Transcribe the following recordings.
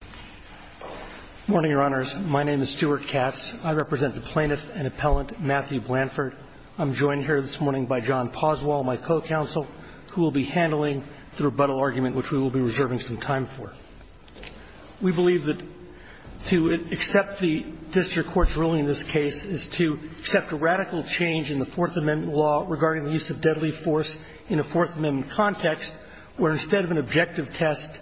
Good morning, Your Honors. My name is Stuart Katz. I represent the plaintiff and appellant Matthew Blanford. I'm joined here this morning by John Poswell, my co-counsel, who will be handling the rebuttal argument, which we will be reserving some time for. We believe that to accept the district court's ruling in this case is to accept a radical change in the Fourth Amendment law regarding the use of deadly force in a Fourth Amendment context, where instead of an objective test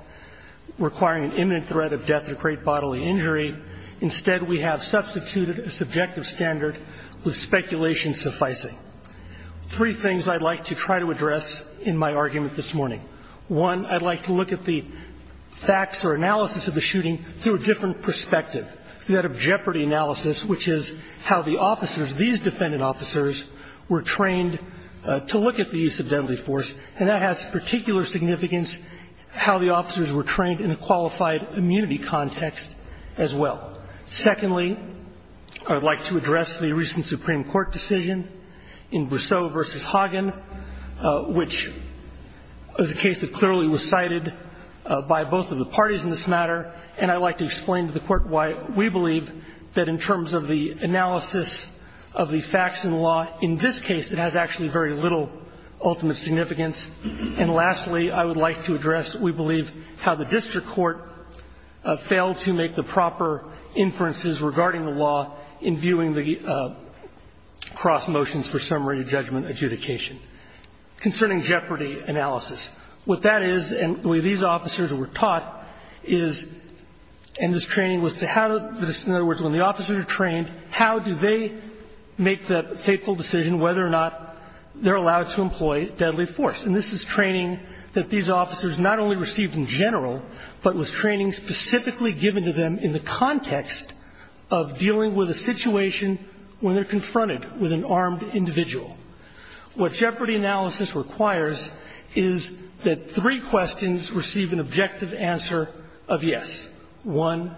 requiring an imminent threat of death to create bodily injury, instead we have substituted a subjective standard with speculation sufficing. Three things I'd like to try to address in my argument this morning. One, I'd like to look at the facts or analysis of the shooting through a different perspective, through that of jeopardy analysis, which is how the officers, these defendant officers, were trained to look at the use of deadly force, and that has particular significance how the officers were trained in a qualified immunity context as well. Secondly, I'd like to address the recent Supreme Court decision in Brousseau v. Hagen, which is a case that clearly was cited by both of the parties in this matter, and I'd like to explain to the Court why we believe that in terms of the analysis of the facts in the law, in this case it has actually very little ultimate significance. And lastly, I would like to address, we believe, how the district court failed to make the proper inferences regarding the law in viewing the cross motions for summary judgment adjudication. Concerning jeopardy analysis, what that is, and the way these officers were taught is, and this training was to how, in other words, when the officers are trained, how do they make the fateful decision whether or not they're allowed to employ deadly force. And this is training that these officers not only received in general, but was training specifically given to them in the context of dealing with a situation when they're confronted with an armed individual. What jeopardy analysis requires is that three questions receive an objective answer of yes. One,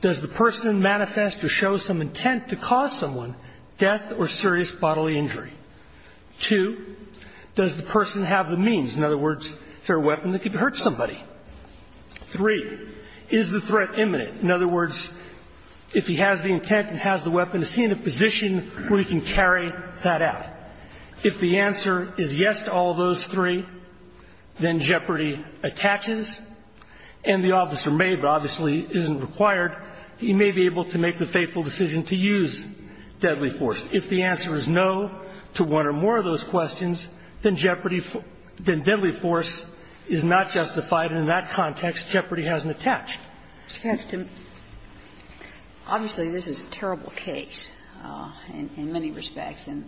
does the person manifest or show some intent to cause someone death or serious bodily injury? Two, does the person have the means? In other words, is there a weapon that could hurt somebody? Three, is the threat imminent? In other words, if he has the intent and has the weapon, is he in a position where he can carry that out? If the answer is yes to all those three, then jeopardy attaches, and the officer may, but obviously isn't required, he may be able to make the fateful decision to use deadly force. If the answer is no to one or more of those questions, then jeopardy, then deadly force is not justified, and in that context jeopardy hasn't attached. Kagan. Obviously, this is a terrible case in many respects and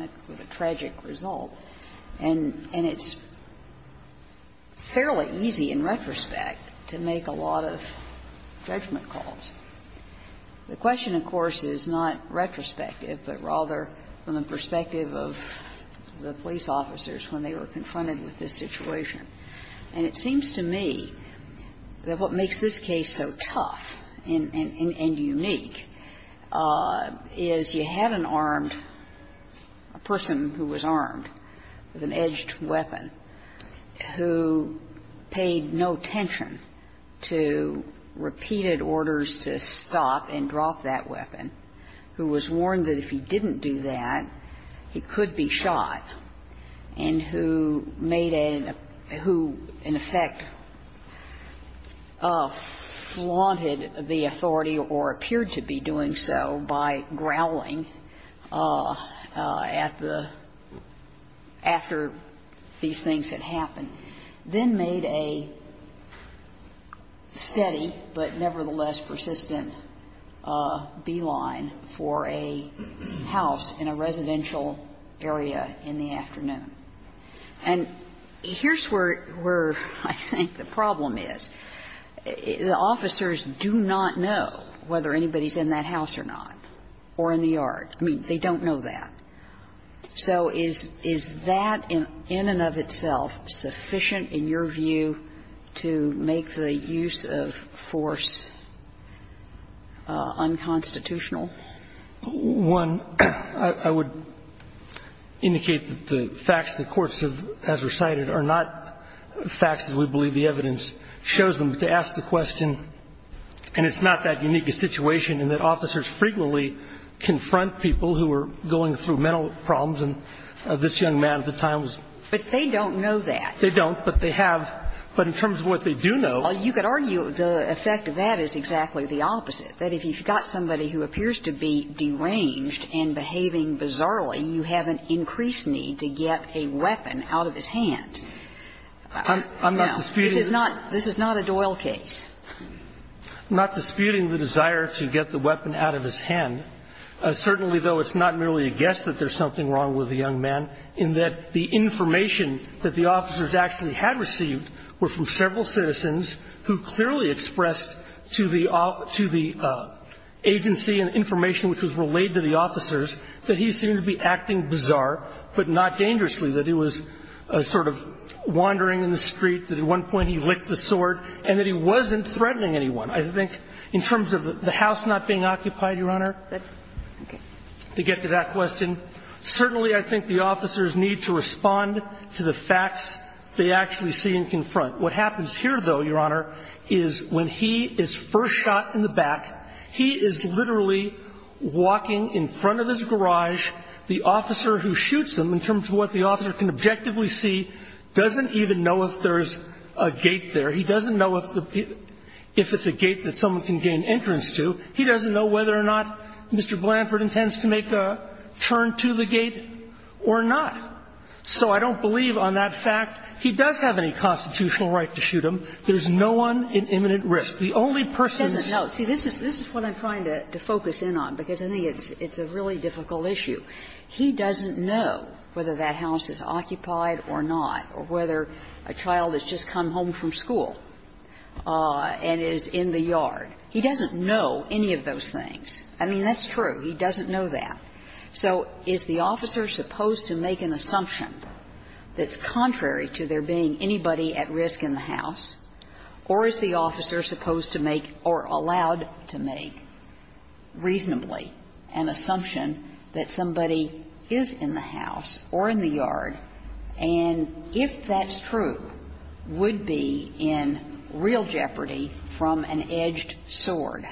a tragic result. And it's fairly easy in retrospect to make a lot of judgment calls. The question, of course, is not retrospective, but rather from the perspective of the police officers when they were confronted with this situation. And it seems to me that what makes this case so tough and unique is you have an armed person who was armed with an edged weapon who paid no attention to repeated orders to stop and drop that weapon, who was warned that if he didn't do that, he could be shot, and who made a --" who, in effect, flaunted the authority or appeared to be doing so by growling at the --" after these things had happened, then made a steady but nevertheless persistent beeline for a house in a residential area in the afternoon. And here's where I think the problem is. The officers do not know whether anybody's in that house or not or in the yard. I mean, they don't know that. So is that in and of itself sufficient in your view to make the use of force unconstitutional? One, I would indicate that the facts the courts have as recited are not facts as we believe the evidence shows them. But to ask the question, and it's not that unique a situation in that officers frequently confront people who are going through mental problems, and this young man at the time was --" But they don't know that. They don't, but they have. But in terms of what they do know --" Well, you could argue the effect of that is exactly the opposite, that if you've got somebody who appears to be deranged and behaving bizarrely, you have an increased need to get a weapon out of his hand. Now, this is not a Doyle case. I'm not disputing the desire to get the weapon out of his hand. Certainly, though, it's not merely a guess that there's something wrong with the young man in that the information that the officers actually had received were from several citizens who clearly expressed to the agency and information which was relayed to the officers that he seemed to be acting bizarre, but not dangerously, that he was sort of wandering in the street, that at one point he licked the sword, and that he wasn't threatening anyone. I think in terms of the House not being occupied, Your Honor, to get to that question, certainly I think the officers need to respond to the facts they actually see and confront. What happens here, though, Your Honor, is when he is first shot in the back, he is literally walking in front of his garage. The officer who shoots him, in terms of what the officer can objectively see, doesn't even know if there's a gate there. He doesn't know if it's a gate that someone can gain entrance to. He doesn't know whether or not Mr. Blanford intends to make a turn to the gate or not. So I don't believe on that fact he does have any constitutional right to shoot him. There's no one in imminent risk. The only person's ---- Kagan. No. See, this is what I'm trying to focus in on, because I think it's a really difficult issue. He doesn't know whether that house is occupied or not, or whether a child has just come home from school and is in the yard. He doesn't know any of those things. I mean, that's true. He doesn't know that. So is the officer supposed to make an assumption that's contrary to there being anybody at risk in the house, or is the officer supposed to make or allowed to make reasonably an assumption that somebody is in the house or in the yard, and if that's true, would be in real jeopardy from an edged sword?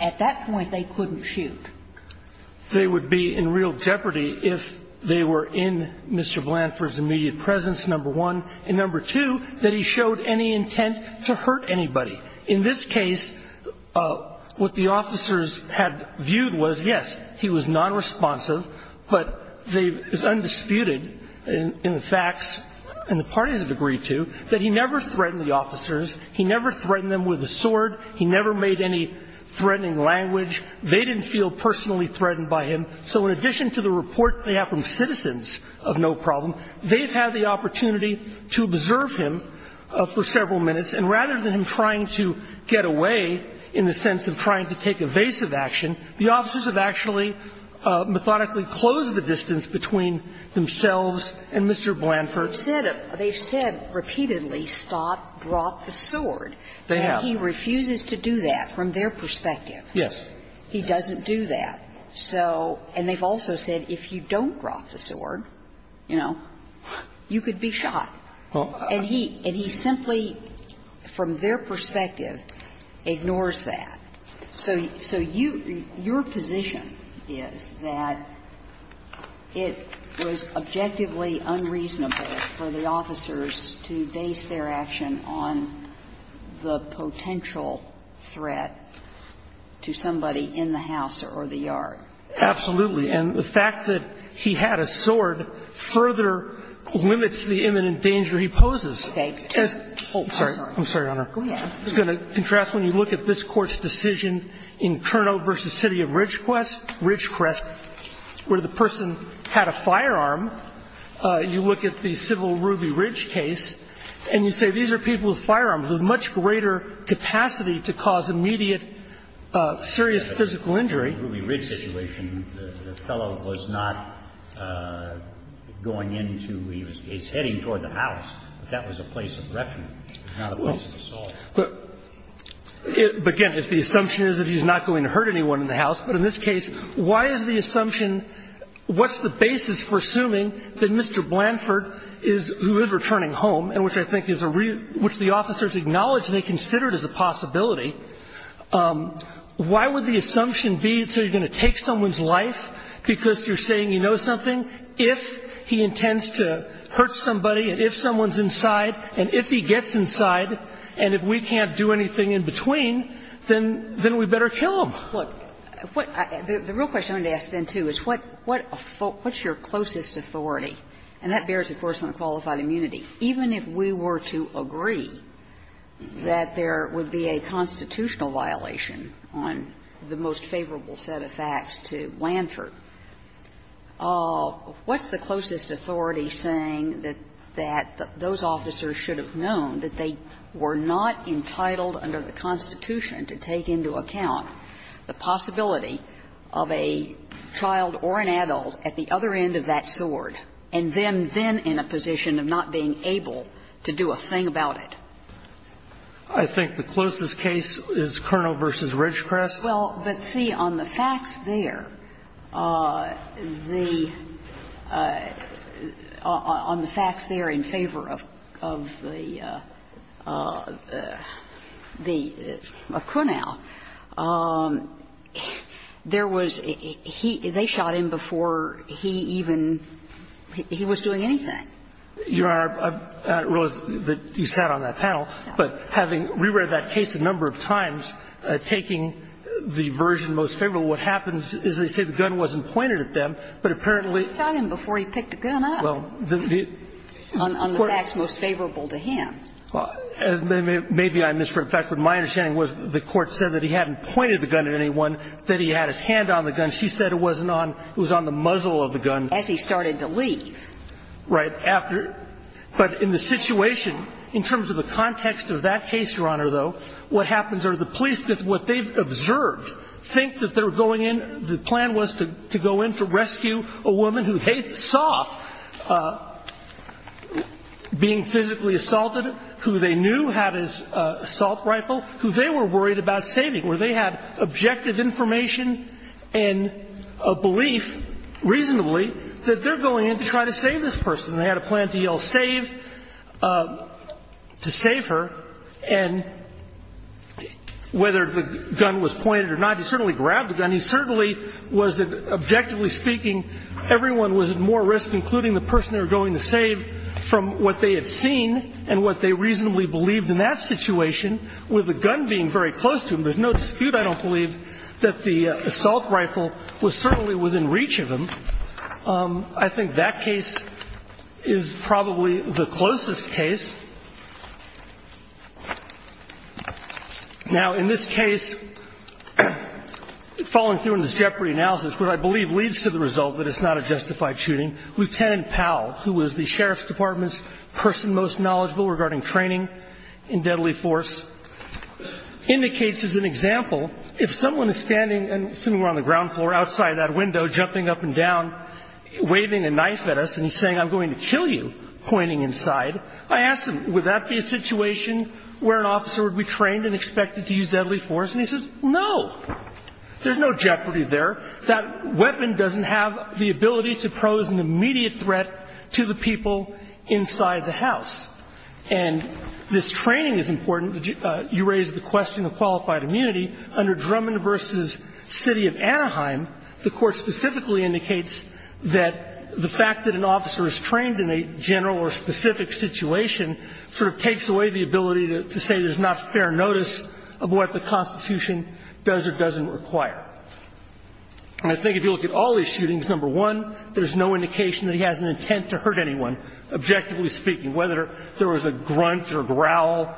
At that point, they couldn't shoot. They would be in real jeopardy if they were in Mr. Blanford's immediate presence, number one, and number two, that he showed any intent to hurt anybody. In this case, what the officers had viewed was, yes, he was nonresponsive, but it's undisputed in the facts, and the parties have agreed to, that he never threatened the officers. He never threatened them with a sword. He never made any threatening language. They didn't feel personally threatened by him. So in addition to the report they have from Citizens of No Problem, they've had the opportunity to observe him for several minutes, and rather than him trying to get away in the sense of trying to take evasive action, the officers have actually methodically closed the distance between themselves and Mr. Blanford. They've said repeatedly, Stott brought the sword, and he refuses to do that from their perspective. Yes. He doesn't do that. So and they've also said, if you don't drop the sword, you know, you could be shot. And he simply, from their perspective, ignores that. So you your position is that it was objectively unreasonable for the officers to base their action on the potential threat to somebody in the house or the yard. Absolutely. And the fact that he had a sword further limits the imminent danger he poses. Okay. I'm sorry. I'm sorry, Your Honor. Go ahead. I was going to contrast when you look at this Court's decision in Kernow v. City of Ridgecrest, where the person had a firearm, you look at the civil Ruby Ridge case, and you say these are people with firearms with much greater capacity to cause immediate serious physical injury. In the Ruby Ridge situation, the fellow was not going into, he was heading toward the house. That was a place of reference, not a place of assault. But again, if the assumption is that he's not going to hurt anyone in the house. But in this case, why is the assumption, what's the basis for assuming that Mr. Blanford is, who is returning home, and which I think is a real, which the officers acknowledge they considered as a possibility, why would the assumption be that you're going to take someone's life because you're saying you know something if he intends to hurt somebody and if someone's inside, and if he gets inside, and if we can't do anything in between, then we better kill him? Look, what I, the real question I wanted to ask then, too, is what's your closest authority? And that bears, of course, on the qualified immunity. Even if we were to agree that there would be a constitutional violation on the most favorable set of facts to Blanford, what's the closest authority saying that those officers should have known that they were not entitled under the Constitution to take into account the possibility of a child or an adult at the other end of that sword, and them then in a position of not being able to do a thing about it? I think the closest case is Kernel v. Ridgecrest. Well, but see, on the facts there, the – on the facts there in favor of the – of Cunauw, there was – he – they shot him before he even got to the point where he was doing anything. Your Honor, I realize that you sat on that panel, but having re-read that case a number of times, taking the version most favorable, what happens is they say the gun wasn't pointed at them, but apparently – They shot him before he picked the gun up. Well, the – On the facts most favorable to him. Maybe I misheard. In fact, what my understanding was, the Court said that he hadn't pointed the gun at anyone, that he had his hand on the gun. She said it wasn't on – it was on the muzzle of the gun. As he started to leave. Right. After – but in the situation, in terms of the context of that case, Your Honor, though, what happens are the police, because what they've observed, think that they're going in – the plan was to go in to rescue a woman who they saw being physically assaulted, who they knew had his assault rifle, who they were worried about saving, where they had objective information and a belief, reasonably, that they're going in to try to save this person. They had a plan to yell save – to save her, and whether the gun was pointed or not, he certainly grabbed the gun. He certainly was – objectively speaking, everyone was at more risk, including the person they were going to save, from what they had seen and what they reasonably believed in that situation, with the gun being very close to him. There's no dispute, I don't believe, that the assault rifle was certainly within reach of him. I think that case is probably the closest case. Now, in this case, following through on this jeopardy analysis, what I believe leads to the result that it's not a justified shooting, Lieutenant Powell, who was the Sheriff's Department's person most knowledgeable regarding training in deadly force, indicates as an example, if someone is standing – assuming we're on the ground floor – outside that window, jumping up and down, waving a knife at us, and he's saying, I'm going to kill you, pointing inside, I ask him, would that be a situation where an officer would be trained and expected to use deadly force? And he says, no, there's no jeopardy there. That weapon doesn't have the ability to pose an immediate threat to the people inside the house. And this training is important. You raised the question of qualified immunity. Under Drummond v. City of Anaheim, the Court specifically indicates that the fact that an officer is trained in a general or specific situation sort of takes away the ability to say there's not fair notice of what the Constitution does or doesn't require. And I think if you look at all these shootings, number one, there's no indication that he has an intent to hurt anyone, objectively speaking, whether there was a grunt or a growl.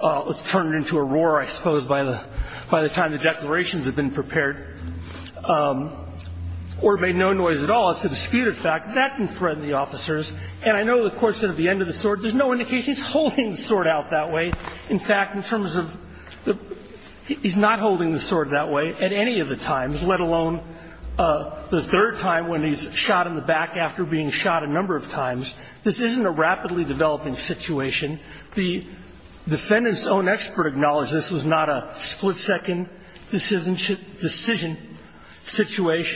It was turned into a roar, I suppose, by the time the declarations had been prepared. Or it made no noise at all. It's a disputed fact. That can threaten the officers. And I know the Court said at the end of the sword, there's no indication he's holding the sword out that way. In fact, in terms of the – he's not holding the sword that way at any of the times, let alone the third time when he's shot in the back after being shot a number of times. This isn't a rapidly developing situation. The defendant's own expert acknowledged this was not a split-second decision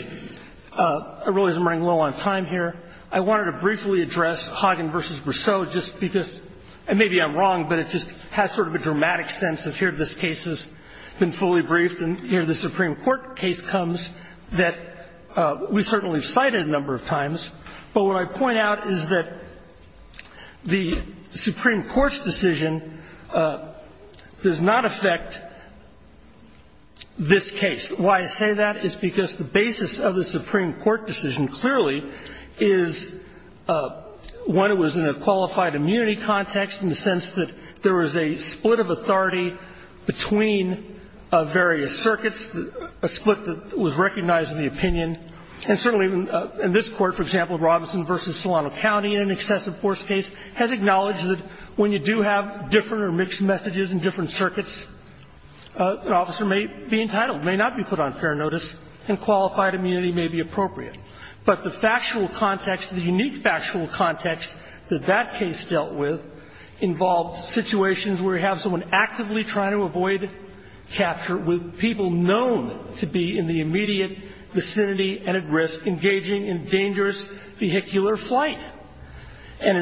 situation. I realize I'm running low on time here. I wanted to briefly address Hagen v. Briseau just because – and maybe I'm wrong, but it just has sort of a dramatic sense of here this case has been fully briefed and here the Supreme Court case comes that we certainly have cited a number of times. But what I point out is that the Supreme Court's decision does not affect this case. Why I say that is because the basis of the Supreme Court decision clearly is, one, it was in a qualified immunity context in the sense that there was a split of authority between various circuits, a split that was recognized in the opinion. And certainly in this Court, for example, Robinson v. Solano County in an excessive force case has acknowledged that when you do have different or mixed messages in different circuits, an officer may be entitled, may not be put on fair notice, and qualified immunity may be appropriate. But the factual context, the unique factual context that that case dealt with involved situations where you have someone actively trying to avoid capture with people known to be in the immediate vicinity and at risk, engaging in dangerous vehicular flight. And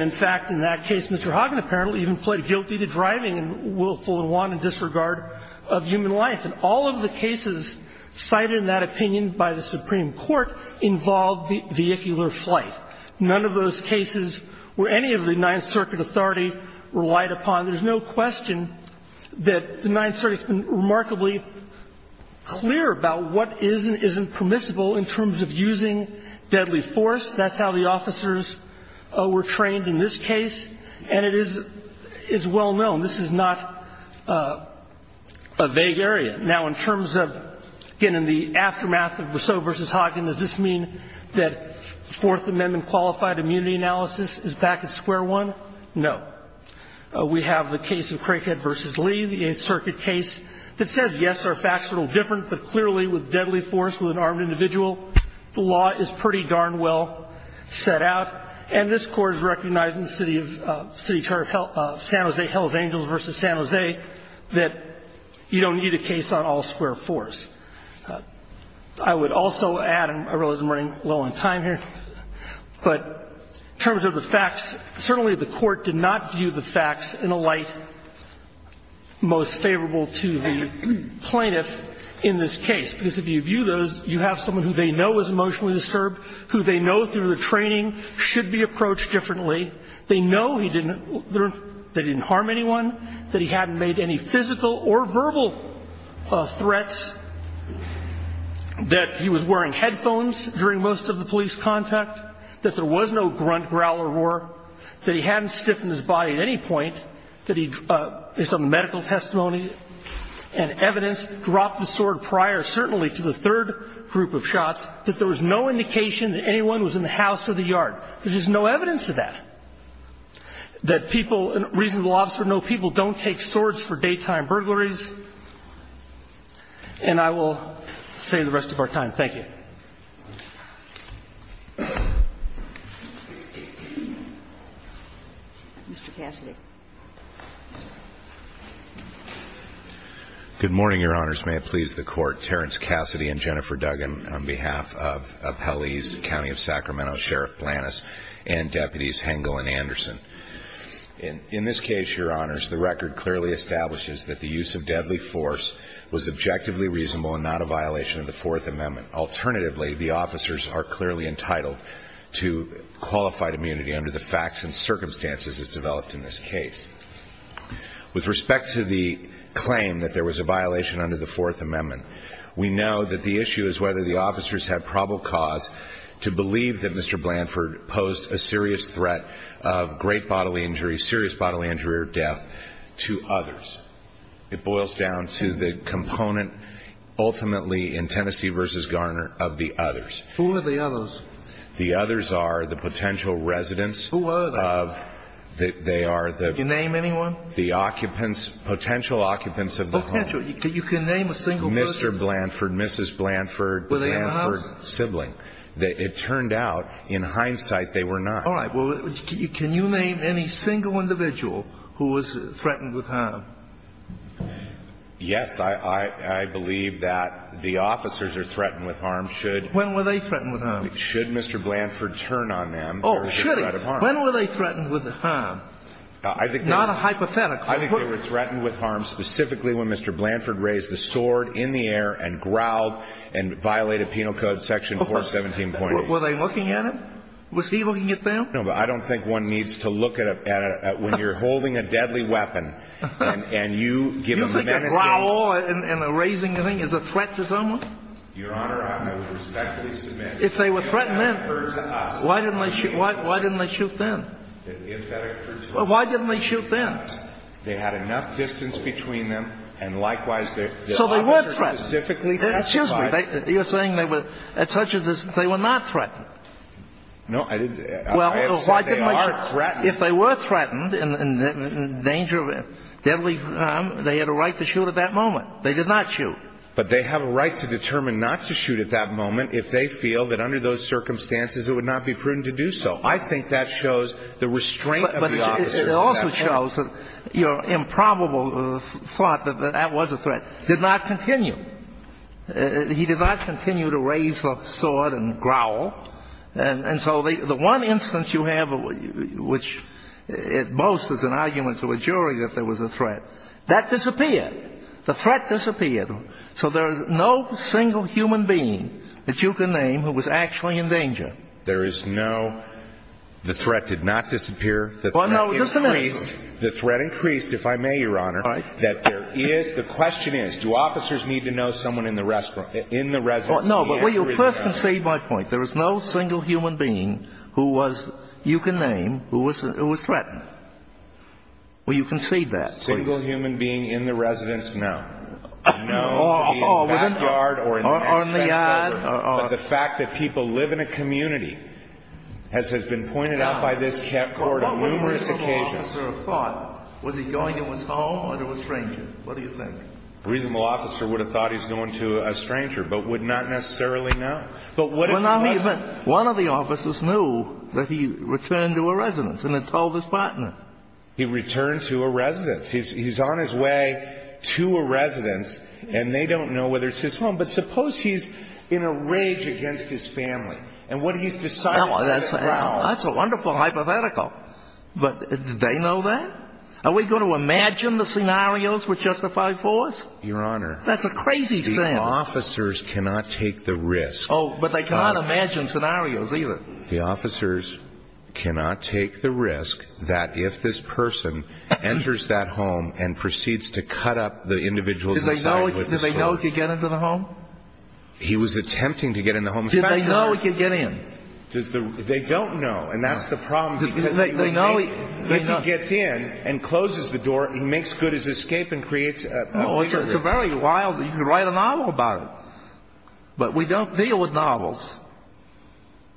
in fact, in that case, Mr. Hagen apparently even pled guilty to driving in willful and wanted disregard of human life. And all of the cases cited in that opinion by the Supreme Court involved vehicular flight. None of those cases were any of the Ninth Circuit authority relied upon. There's no question that the Ninth Circuit has been remarkably clear about what is and isn't permissible in terms of using deadly force. That's how the officers were trained in this case, and it is well known. This is not a vague area. Now, in terms of, again, in the aftermath of Rousseau v. Hagen, does this mean that Fourth Amendment qualified immunity analysis is back at square one? No. We have the case of Crankhead v. Lee, the Eighth Circuit case, that says, yes, our facts are a little different, but clearly with deadly force with an armed individual, the law is pretty darn well set out. And this court is recognizing the city of San Jose Hells Angels v. San Jose, that you don't need a case on all square fours. I would also add, and I realize I'm running low on time here, but in terms of the facts, certainly the court did not view the facts in a light most favorable to the plaintiff in this case, because if you view those, you have someone who they know is emotionally disturbed, who they know through the training should be approached differently, they know he didn't harm anyone, that he hadn't made any physical or verbal threats, that he was wearing headphones during most of the police contact, that there was no grunt, growl, or roar, that he hadn't stiffened his body at any point, that he, based on the medical testimony and evidence, dropped the sword prior, certainly to the third group of shots, that there was no indication that anyone was in the house or the yard. There's just no evidence of that. That people, reasonable officer know people don't take swords for daytime burglaries, and I will say the rest of our time. Thank you. Mr. Cassidy. Good morning, your honors. May it please the court. Terrence Cassidy and Jennifer Duggan on behalf of Appellees County of Sacramento, Sheriff Blanis, and deputies Hengel and Anderson. In this case, your honors, the record clearly establishes that the use of deadly force was objectively reasonable and not a violation of the fourth amendment. Alternatively, the officers are clearly entitled to qualified immunity under the facts and circumstances as developed in this case. With respect to the claim that there was a violation under the fourth amendment, we know that the issue is whether the officers had probable cause to believe that Mr. Blanford posed a serious threat of great bodily injury, serious bodily injury or death to others. It boils down to the component, ultimately in Tennessee versus Garner, of the others. Who are the others? The others are the potential residents. Who are they? That they are the- Can you name anyone? The occupants, potential occupants of the home. Potential, you can name a single person. Mr. Blanford, Mrs. Blanford. Were they in the house? Mr. Blanford's sibling. It turned out, in hindsight, they were not. All right, well, can you name any single individual who was threatened with harm? Yes, I believe that the officers are threatened with harm should- When were they threatened with harm? Should Mr. Blanford turn on them- Oh, should he? When were they threatened with harm? I think they were- Not a hypothetical. I think they were threatened with harm specifically when Mr. Blanford was in the office. Was he looking at them? No, but I don't think one needs to look at it when you're holding a deadly weapon and you give them the medicine. You think a growl and a raising the thing is a threat to someone? Your Honor, I would respectfully submit that if that occurred to us- If they were threatened then, why didn't they shoot then? If that occurred to us- Why didn't they shoot then? They had enough distance between them, and likewise, they- So they were threatened. They were specifically testified- Excuse me, you're saying they were, such as this, they were not threatened. No, I didn't- Well, I have said they are threatened. If they were threatened in danger of deadly harm, they had a right to shoot at that moment. They did not shoot. But they have a right to determine not to shoot at that moment if they feel that under those circumstances it would not be prudent to do so. I think that shows the restraint of the officers in that area. I think that shows that your improbable thought that that was a threat did not continue. He did not continue to raise the sword and growl. And so the one instance you have which boasts as an argument to a jury that there was a threat, that disappeared. The threat disappeared. So there is no single human being that you can name who was actually in danger. There is no- The threat did not disappear. The threat increased. The threat increased, if I may, Your Honor, that there is- The question is, do officers need to know someone in the residence- No, but will you first concede my point? There is no single human being who was, you can name, who was threatened. Will you concede that, please? Single human being in the residence, no. No, it would be in the backyard or in the next- Or in the yard. But the fact that people live in a community, as has been pointed out by this Court on numerous occasions- A reasonable officer would have thought, was he going to his home or to a stranger? What do you think? A reasonable officer would have thought he was going to a stranger, but would not necessarily know. But what if he wasn't? One of the officers knew that he returned to a residence and had told his partner. He returned to a residence. He's on his way to a residence, and they don't know whether it's his home. But suppose he's in a rage against his family, and what he's decided to do- That's a wonderful hypothetical, but do they know that? Are we going to imagine the scenarios were justified for us? Your Honor, the officers cannot take the risk- Oh, but they cannot imagine scenarios either. The officers cannot take the risk that if this person enters that home and proceeds to cut up the individual's inside- Did they know he could get into the home? He was attempting to get in the home- Did they know he could get in? They don't know, and that's the problem. They know he- If he gets in and closes the door, he makes good his escape and creates- It's a very wild- You could write a novel about it, but we don't deal with novels.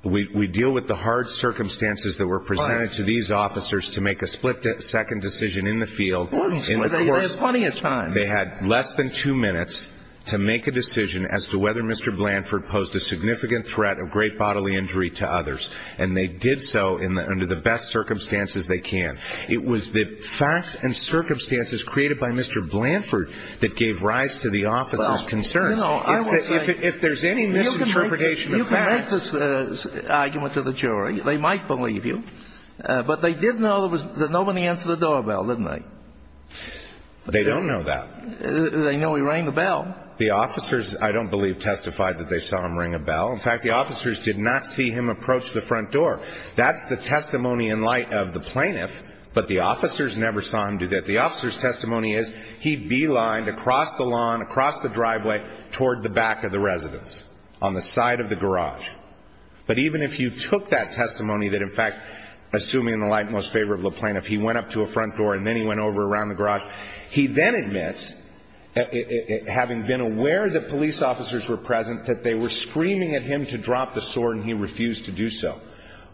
We deal with the hard circumstances that were presented to these officers to make a split-second decision in the field. They had plenty of time. They had less than two minutes to make a decision as to whether Mr. Blanford posed a significant threat of great bodily injury to others, and they did so under the best circumstances they can. It was the facts and circumstances created by Mr. Blanford that gave rise to the officers' concerns. If there's any misinterpretation of facts- You can make this argument to the jury. They might believe you, but they did know that nobody answered the doorbell, didn't they? They don't know that. They know he rang the bell. The officers, I don't believe, testified that they saw him ring a bell. In fact, the officers did not see him approach the front door. That's the testimony in light of the plaintiff, but the officers never saw him do that. The officer's testimony is he beelined across the lawn, across the driveway, toward the back of the residence, on the side of the garage. But even if you took that testimony that, in fact, assuming in the light most favorable of the plaintiff, he went up to a front door and then he went over around the garage, he then admits, having been aware that police officers were present, that they were screaming at him to drop the sword and he refused to do so.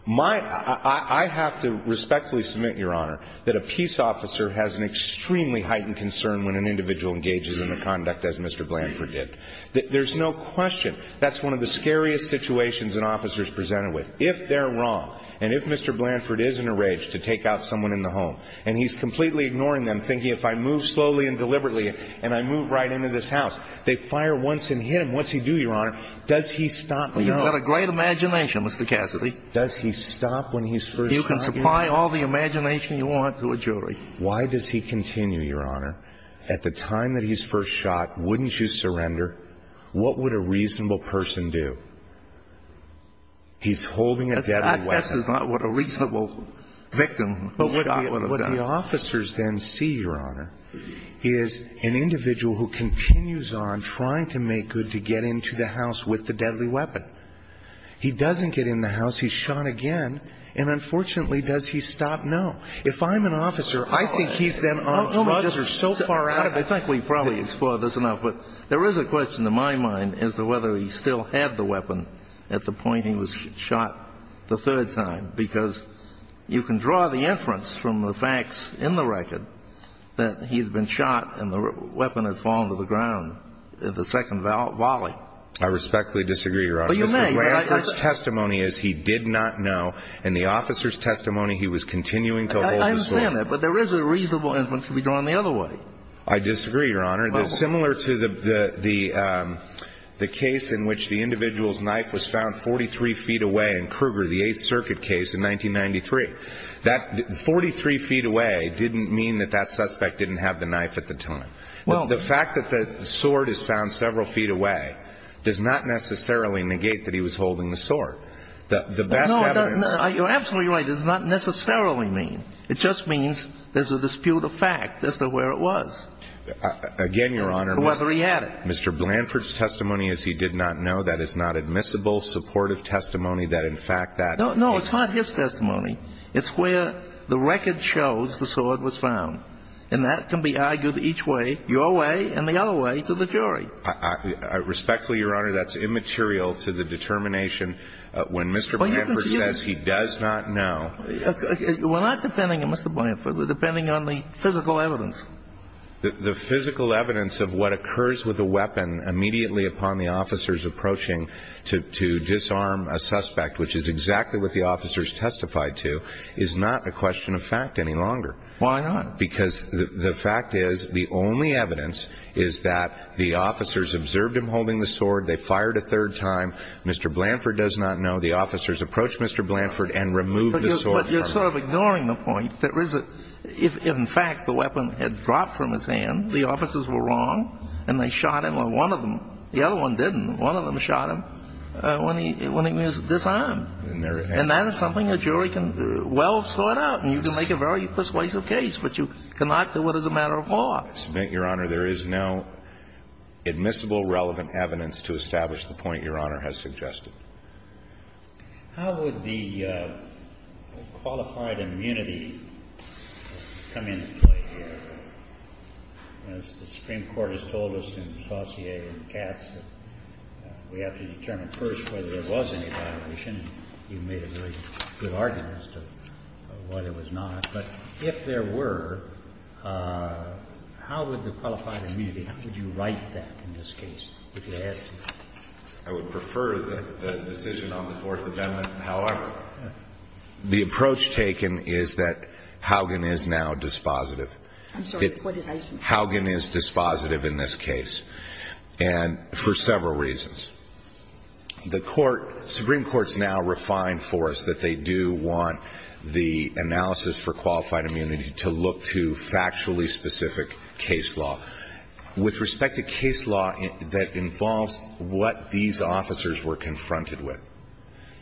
I have to respectfully submit, Your Honor, that a peace officer has an extremely heightened concern when an individual engages in the conduct as Mr. Blanford did. There's no question that's one of the scariest situations an officer's presented with. If they're wrong and if Mr. Blanford is in a rage to take out someone in the home and he's completely ignoring them, thinking, if I move slowly and deliberately and I move right into this house, they fire once and hit him. What's he do, Your Honor? Does he stop? Well, you've got a great imagination, Mr. Cassidy. Does he stop when he's first shot? You can supply all the imagination you want to a jury. Why does he continue, Your Honor? At the time that he's first shot, wouldn't you surrender? What would a reasonable person do? He's holding a deadly weapon. That's not what a reasonable victim would do. But what the officers then see, Your Honor, is an individual who continues on trying to make good to get into the house with the deadly weapon. He doesn't get in the house. He's shot again. And unfortunately, does he stop? No. If I'm an officer, I think he's then on drugs or so far out of it. I think we've probably explored this enough. But there is a question in my mind as to whether he still had the weapon at the point he was shot the third time. Because you can draw the inference from the facts in the record that he'd been shot and the weapon had fallen to the ground in the second volley. I respectfully disagree, Your Honor. Mr. Blanford's testimony is he did not know. In the officer's testimony, he was continuing to hold his weapon. I understand that. But there is a reasonable inference to be drawn the other way. I disagree, Your Honor. Similar to the case in which the individual's knife was found 43 feet away in Kruger, the Eighth Circuit case in 1993. That 43 feet away didn't mean that that suspect didn't have the knife at the time. Well, the fact that the sword is found several feet away does not necessarily negate that he was holding the sword. The best evidence You're absolutely right. It does not necessarily mean. It just means there's a dispute of fact as to where it was. Again, Your Honor. Whether he had it. Mr. Blanford's testimony is he did not know. That is not admissible supportive testimony that in fact that. No, no. It's not his testimony. It's where the record shows the sword was found. And that can be argued each way, your way and the other way to the jury. I respectfully, Your Honor, that's immaterial to the determination when Mr. Blanford says he does not know. We're not depending on Mr. Blanford. We're depending on the physical evidence. The physical evidence of what occurs with a weapon immediately upon the officers approaching to disarm a suspect, which is exactly what the officers testified to, is not a question of fact any longer. Why not? Because the fact is the only evidence is that the officers observed him holding the sword. They fired a third time. Mr. Blanford does not know. The officers approached Mr. Blanford and removed the sword. But you're sort of ignoring the point that if in fact the weapon had dropped from his hand, the officers were wrong and they shot him or one of them, the other one didn't, one of them shot him when he was disarmed. And that is something a jury can well sort out. And you can make a very persuasive case, but you cannot do it as a matter of law. I submit, Your Honor, there is no admissible relevant evidence to establish the point Your Honor has suggested. How would the qualified immunity come into play here? As the Supreme Court has told us in Saussure and Katz, we have to determine first whether there was any violation. You made a very good argument as to whether it was not. But if there were, how would the qualified immunity, how would you write that in this case, if you had to? I would prefer the decision on the Fourth Amendment. However, the approach taken is that Haugen is now dispositive. I'm sorry, what did I say? Haugen is dispositive in this case, and for several reasons. The Supreme Court has now refined for us that they do want the analysis for qualified immunity to look to factually specific case law. With respect to case law that involves what these officers were confronted with,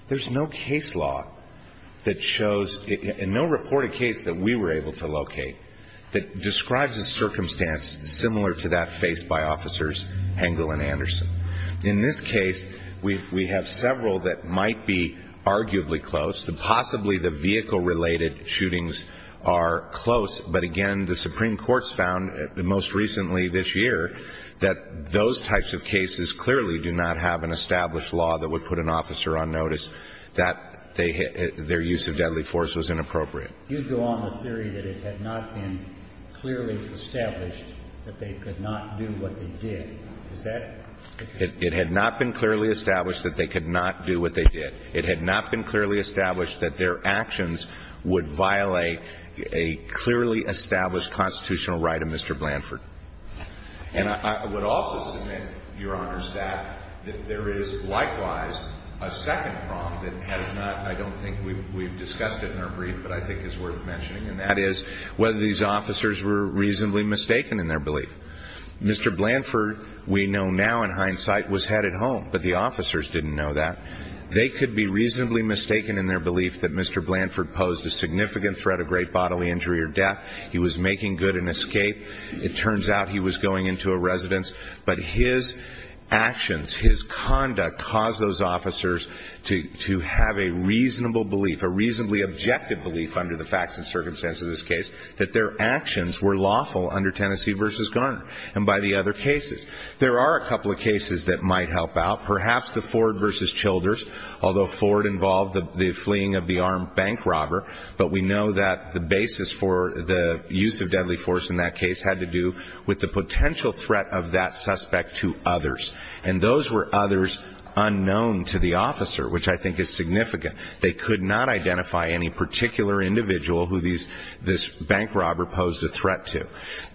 there's no case law that shows, and no reported case that we were able to locate, that describes a circumstance similar to that faced by officers Hengel and Anderson. In this case, we have several that might be arguably close. Possibly the vehicle-related shootings are close. But again, the Supreme Court's found, most recently this year, that those types of cases clearly do not have an established law that would put an officer on notice that their use of deadly force was inappropriate. You go on the theory that it had not been clearly established that they could not do what they did. Is that true? It had not been clearly established that they could not do what they did. It had not been clearly established that their actions would violate a clearly established constitutional right of Mr. Blanford. And I would also submit, Your Honor's staff, that there is likewise a second problem that has not, I don't think we've discussed it in our brief, but I think it's worth mentioning, and that is whether these officers were reasonably mistaken in their belief. Mr. Blanford, we know now in hindsight, was headed home, but the officers didn't know that. They could be reasonably mistaken in their belief that Mr. Blanford posed a significant threat of great bodily injury or death. He was making good an escape. It turns out he was going into a residence. But his actions, his conduct, caused those officers to have a reasonable belief, a reasonably objective belief under the facts and circumstances of this case, that their actions were lawful under Tennessee v. Garner and by the other cases. There are a couple of cases that might help out. Perhaps the Ford v. Childers, although Ford involved the fleeing of the armed bank robber, but we know that the basis for the use of deadly force in that case had to do with the potential threat of that suspect to others. And those were others unknown to the officer, which I think is significant. They could not identify any particular individual who this bank robber posed a threat to.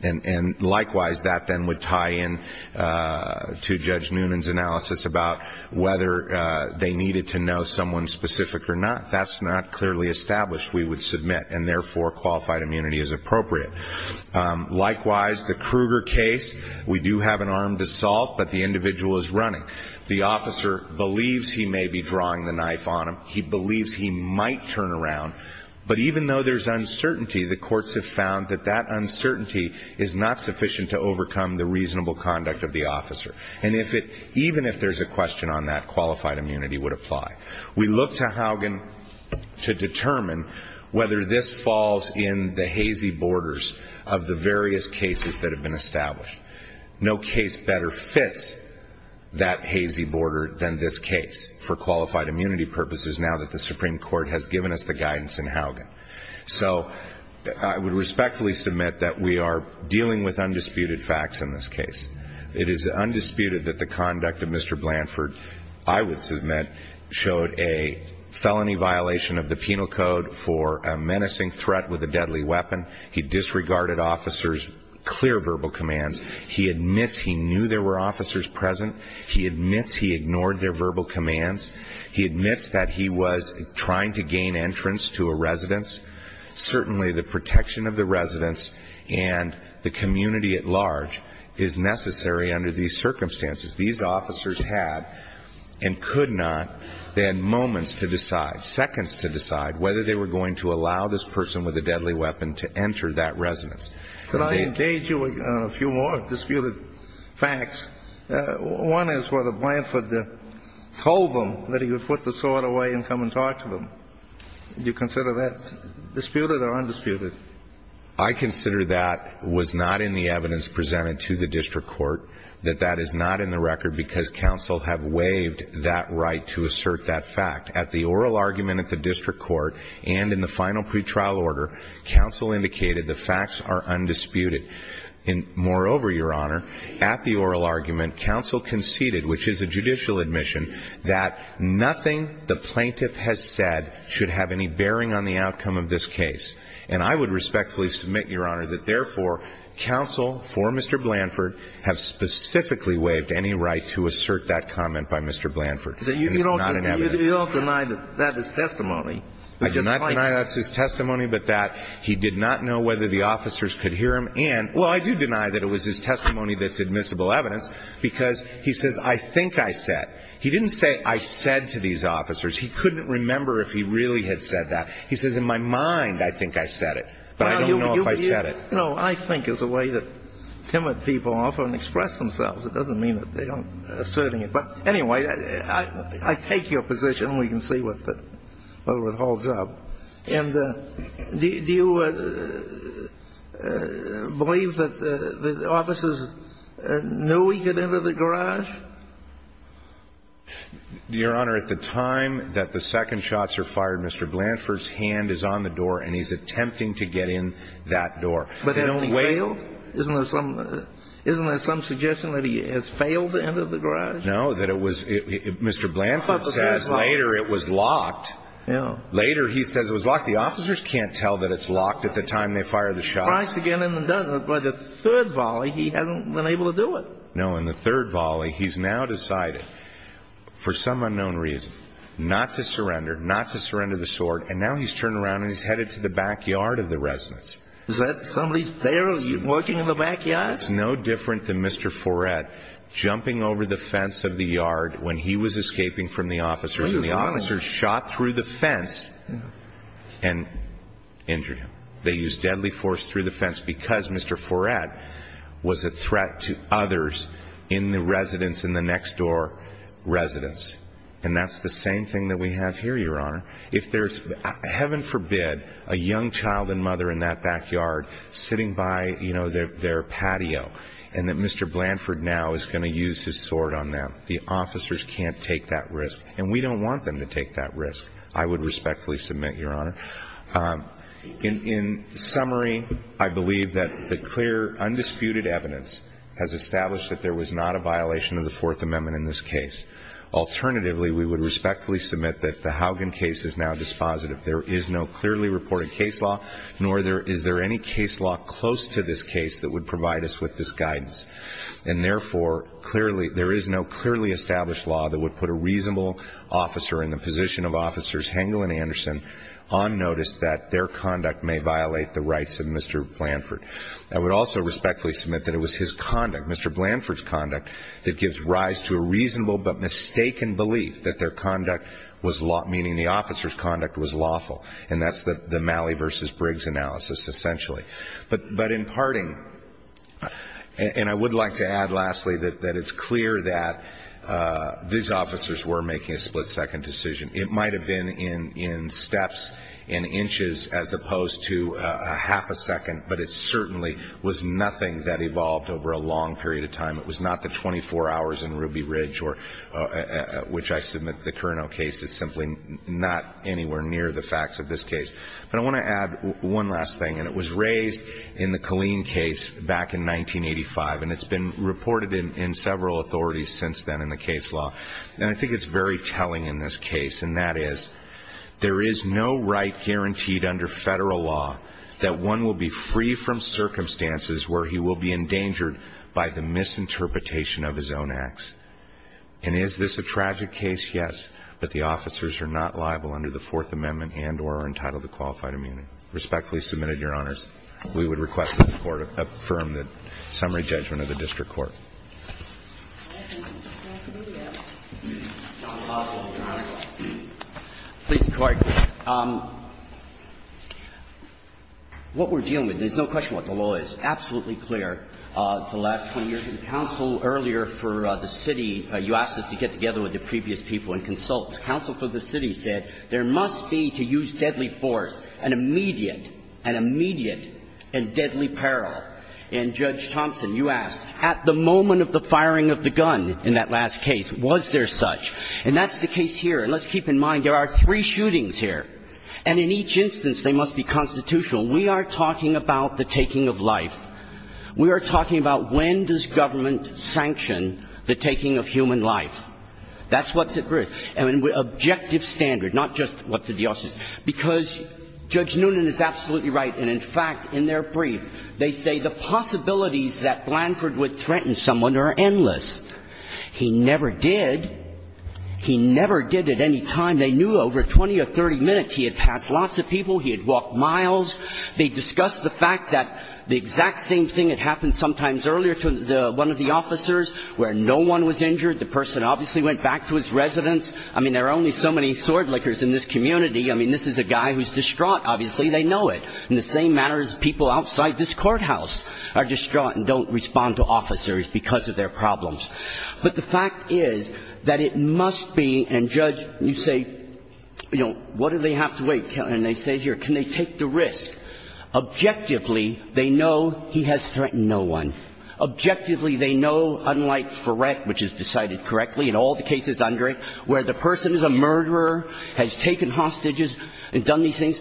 And, likewise, that then would tie in to Judge Noonan's analysis about whether they needed to know someone specific or not. That's not clearly established, we would submit, and, therefore, qualified immunity is appropriate. Likewise, the Kruger case, we do have an armed assault, but the individual is running. The officer believes he may be drawing the knife on him. He believes he might turn around. But even though there's uncertainty, the courts have found that that uncertainty is not sufficient to overcome the reasonable conduct of the officer. And even if there's a question on that, qualified immunity would apply. We look to Haugen to determine whether this falls in the hazy borders of the various cases that have been established. No case better fits that hazy border than this case for qualified immunity purposes now that the Supreme Court has given us the guidance in Haugen. So I would respectfully submit that we are dealing with undisputed facts in this case. It is undisputed that the conduct of Mr. Blanford, I would submit, showed a felony violation of the Penal Code for a menacing threat with a deadly weapon. He disregarded officers' clear verbal commands. He admits he knew there were officers present. He admits he ignored their verbal commands. He admits that he was trying to gain entrance to a residence. Certainly the protection of the residence and the community at large is necessary under these circumstances. These officers had and could not. They had moments to decide, seconds to decide whether they were going to allow this person with a deadly weapon to enter that residence. Could I engage you in a few more disputed facts? One is whether Blanford told them that he would put the sword away and come and talk to them. Do you consider that disputed or undisputed? I consider that was not in the evidence presented to the district court, that that is not in the record because counsel have waived that right to assert that fact. At the oral argument at the district court and in the final pretrial order, counsel indicated the facts are undisputed. And moreover, Your Honor, at the oral argument, counsel conceded, which is a judicial admission, that nothing the plaintiff has said should have any bearing on the outcome of this case. And I would respectfully submit, Your Honor, that therefore, counsel for Mr. Blanford have specifically waived any right to assert that comment by Mr. Blanford. And it's not in evidence. You don't deny that that is testimony. I do not deny that's his testimony, but that he did not know whether the officers could hear him and, well, I do deny that it was his testimony that's admissible evidence, because he says, I think I said. He didn't say, I said to these officers. He couldn't remember if he really had said that. He says, in my mind, I think I said it. But I don't know if I said it. No, I think is a way that timid people often express themselves. It doesn't mean that they aren't asserting it. But anyway, I take your position. We can see whether it holds up. And do you believe that the officers knew he could enter the garage? Your Honor, at the time that the second shots are fired, Mr. Blanford's hand is on the door and he's attempting to get in that door. But has he failed? Isn't there some suggestion that he has failed to enter the garage? No, that it was Mr. Blanford says later it was locked. Yeah. Later he says it was locked. The officers can't tell that it's locked at the time they fire the shots. But the third volley, he hasn't been able to do it. No, in the third volley, he's now decided, for some unknown reason, not to surrender, not to surrender the sword. And now he's turned around and he's headed to the backyard of the residence. Is that somebody's there working in the backyard? It's no different than Mr. Foret jumping over the fence of the yard when he was escaping from the officers. The officers shot through the fence and injured him. They used deadly force through the fence because Mr. Foret was a threat to others in the residence, in the next door residence. And that's the same thing that we have here, Your Honor. If there's, heaven forbid, a young child and mother in that backyard sitting by their patio and that Mr. Blanford now is going to use his sword on them, the officers can't take that risk. And we don't want them to take that risk, I would respectfully submit, Your Honor. In summary, I believe that the clear, undisputed evidence has established that there was not a violation of the Fourth Amendment in this case. Alternatively, we would respectfully submit that the Haugen case is now dispositive. There is no clearly reported case law, nor is there any case law close to this case that would provide us with this guidance. And therefore, clearly, there is no clearly established law that would put a reasonable officer in the position of Officers Hengel and Anderson on notice that their conduct may violate the rights of Mr. Blanford. I would also respectfully submit that it was his conduct, Mr. Blanford's conduct, that gives rise to a reasonable but mistaken belief that their conduct was law, meaning the officer's conduct was lawful. And that's the Malley v. Briggs analysis, essentially. But in parting, and I would like to add, lastly, that it's clear that these officers were making a split-second decision. It might have been in steps, in inches, as opposed to a half a second, but it certainly was nothing that evolved over a long period of time. It was not the 24 hours in Ruby Ridge, which I submit the Cournot case is simply not anywhere near the facts of this case. But I want to add one last thing, and it was raised in the Killeen case back in 1985, and it's been reported in several authorities since then in the case law. And I think it's very telling in this case, and that is there is no right guaranteed under Federal law that one will be free from circumstances where he will be endangered by the misinterpretation of his own acts. And is this a tragic case? Yes. But the officers are not liable under the Fourth Amendment and or are entitled to qualified immunity. Respectfully submitted, Your Honors. We would request that the Court affirm the summary judgment of the district court. Please, Mr. Clark. What we're dealing with, there's no question what the law is. It's absolutely clear. For the last 20 years, the counsel earlier for the city, you asked us to get together with the previous people and consult. Counsel for the city said there must be, to use deadly force, an immediate, an immediate and deadly peril. And Judge Thompson, you asked, at the moment of the firing of the gun in that last case, was there such? And that's the case here. And let's keep in mind, there are three shootings here. And in each instance, they must be constitutional. We are talking about the taking of life. We are talking about when does government sanction the taking of human life. That's what's at risk. And with objective standard, not just what the DOS is. Because Judge Noonan is absolutely right. And in fact, in their brief, they say the possibilities that Blanford would threaten someone are endless. He never did. He never did at any time. They knew over 20 or 30 minutes he had passed lots of people. He had walked miles. They discussed the fact that the exact same thing had happened sometimes earlier to one of the officers where no one was injured. The person obviously went back to his residence. I mean, there are only so many sword lickers in this community. I mean, this is a guy who's distraught, obviously. They know it. In the same manner as people outside this courthouse are distraught and don't respond to officers because of their problems. But the fact is that it must be, and Judge, you say, you know, what do they have to wait? And they say here, can they take the risk? Objectively, they know he has threatened no one. Objectively, they know, unlike for rec, which is decided correctly in all the cases under it, where the person is a murderer, has taken hostages and done these things,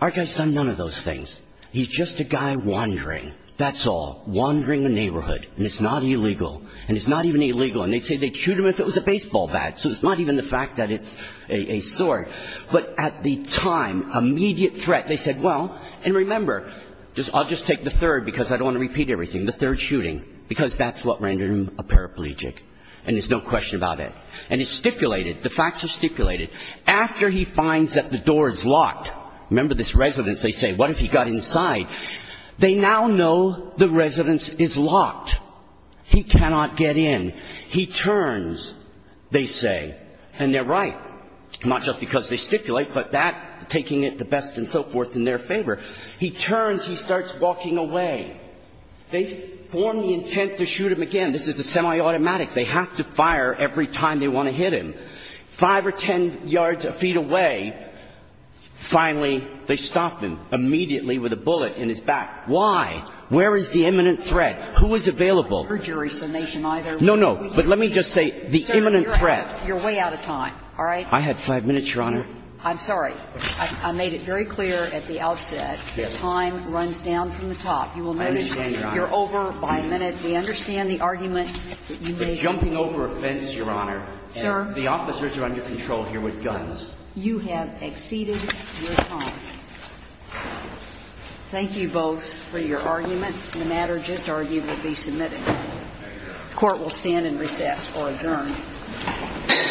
our guy's done none of those things. He's just a guy wandering. That's all. Wandering the neighborhood. And it's not illegal. And it's not even illegal. And they say they'd shoot him if it was a baseball bat. So it's not even the fact that it's a sword. But at the time, immediate threat, they said, well, and remember, I'll just take the third because I don't want to repeat everything, the third shooting, because that's what rendered him a paraplegic. And there's no question about it. And it's stipulated. The facts are stipulated. After he finds that the door is locked, remember this residence, they say, what if he got inside? They now know the residence is locked. He cannot get in. He turns, they say. And they're right, not just because they stipulate, but that taking it the best and so forth in their favor. He turns, he starts walking away. They form the intent to shoot him again. This is a semiautomatic. They have to fire every time they want to hit him. Five or ten yards, feet away, finally, they stop him immediately with a bullet in his back. Why? Where is the imminent threat? Who is available? No, no. But let me just say the imminent threat. You're way out of time. All right? I had five minutes, Your Honor. I'm sorry. I made it very clear at the outset that time runs down from the top. I understand, Your Honor. You're over by a minute. We understand the argument that you made. The jumping over a fence, Your Honor, and the officers are under control here with guns. You have exceeded your time. Thank you both for your argument. The matter just argued to be submitted. The Court will stand and recess or adjourn.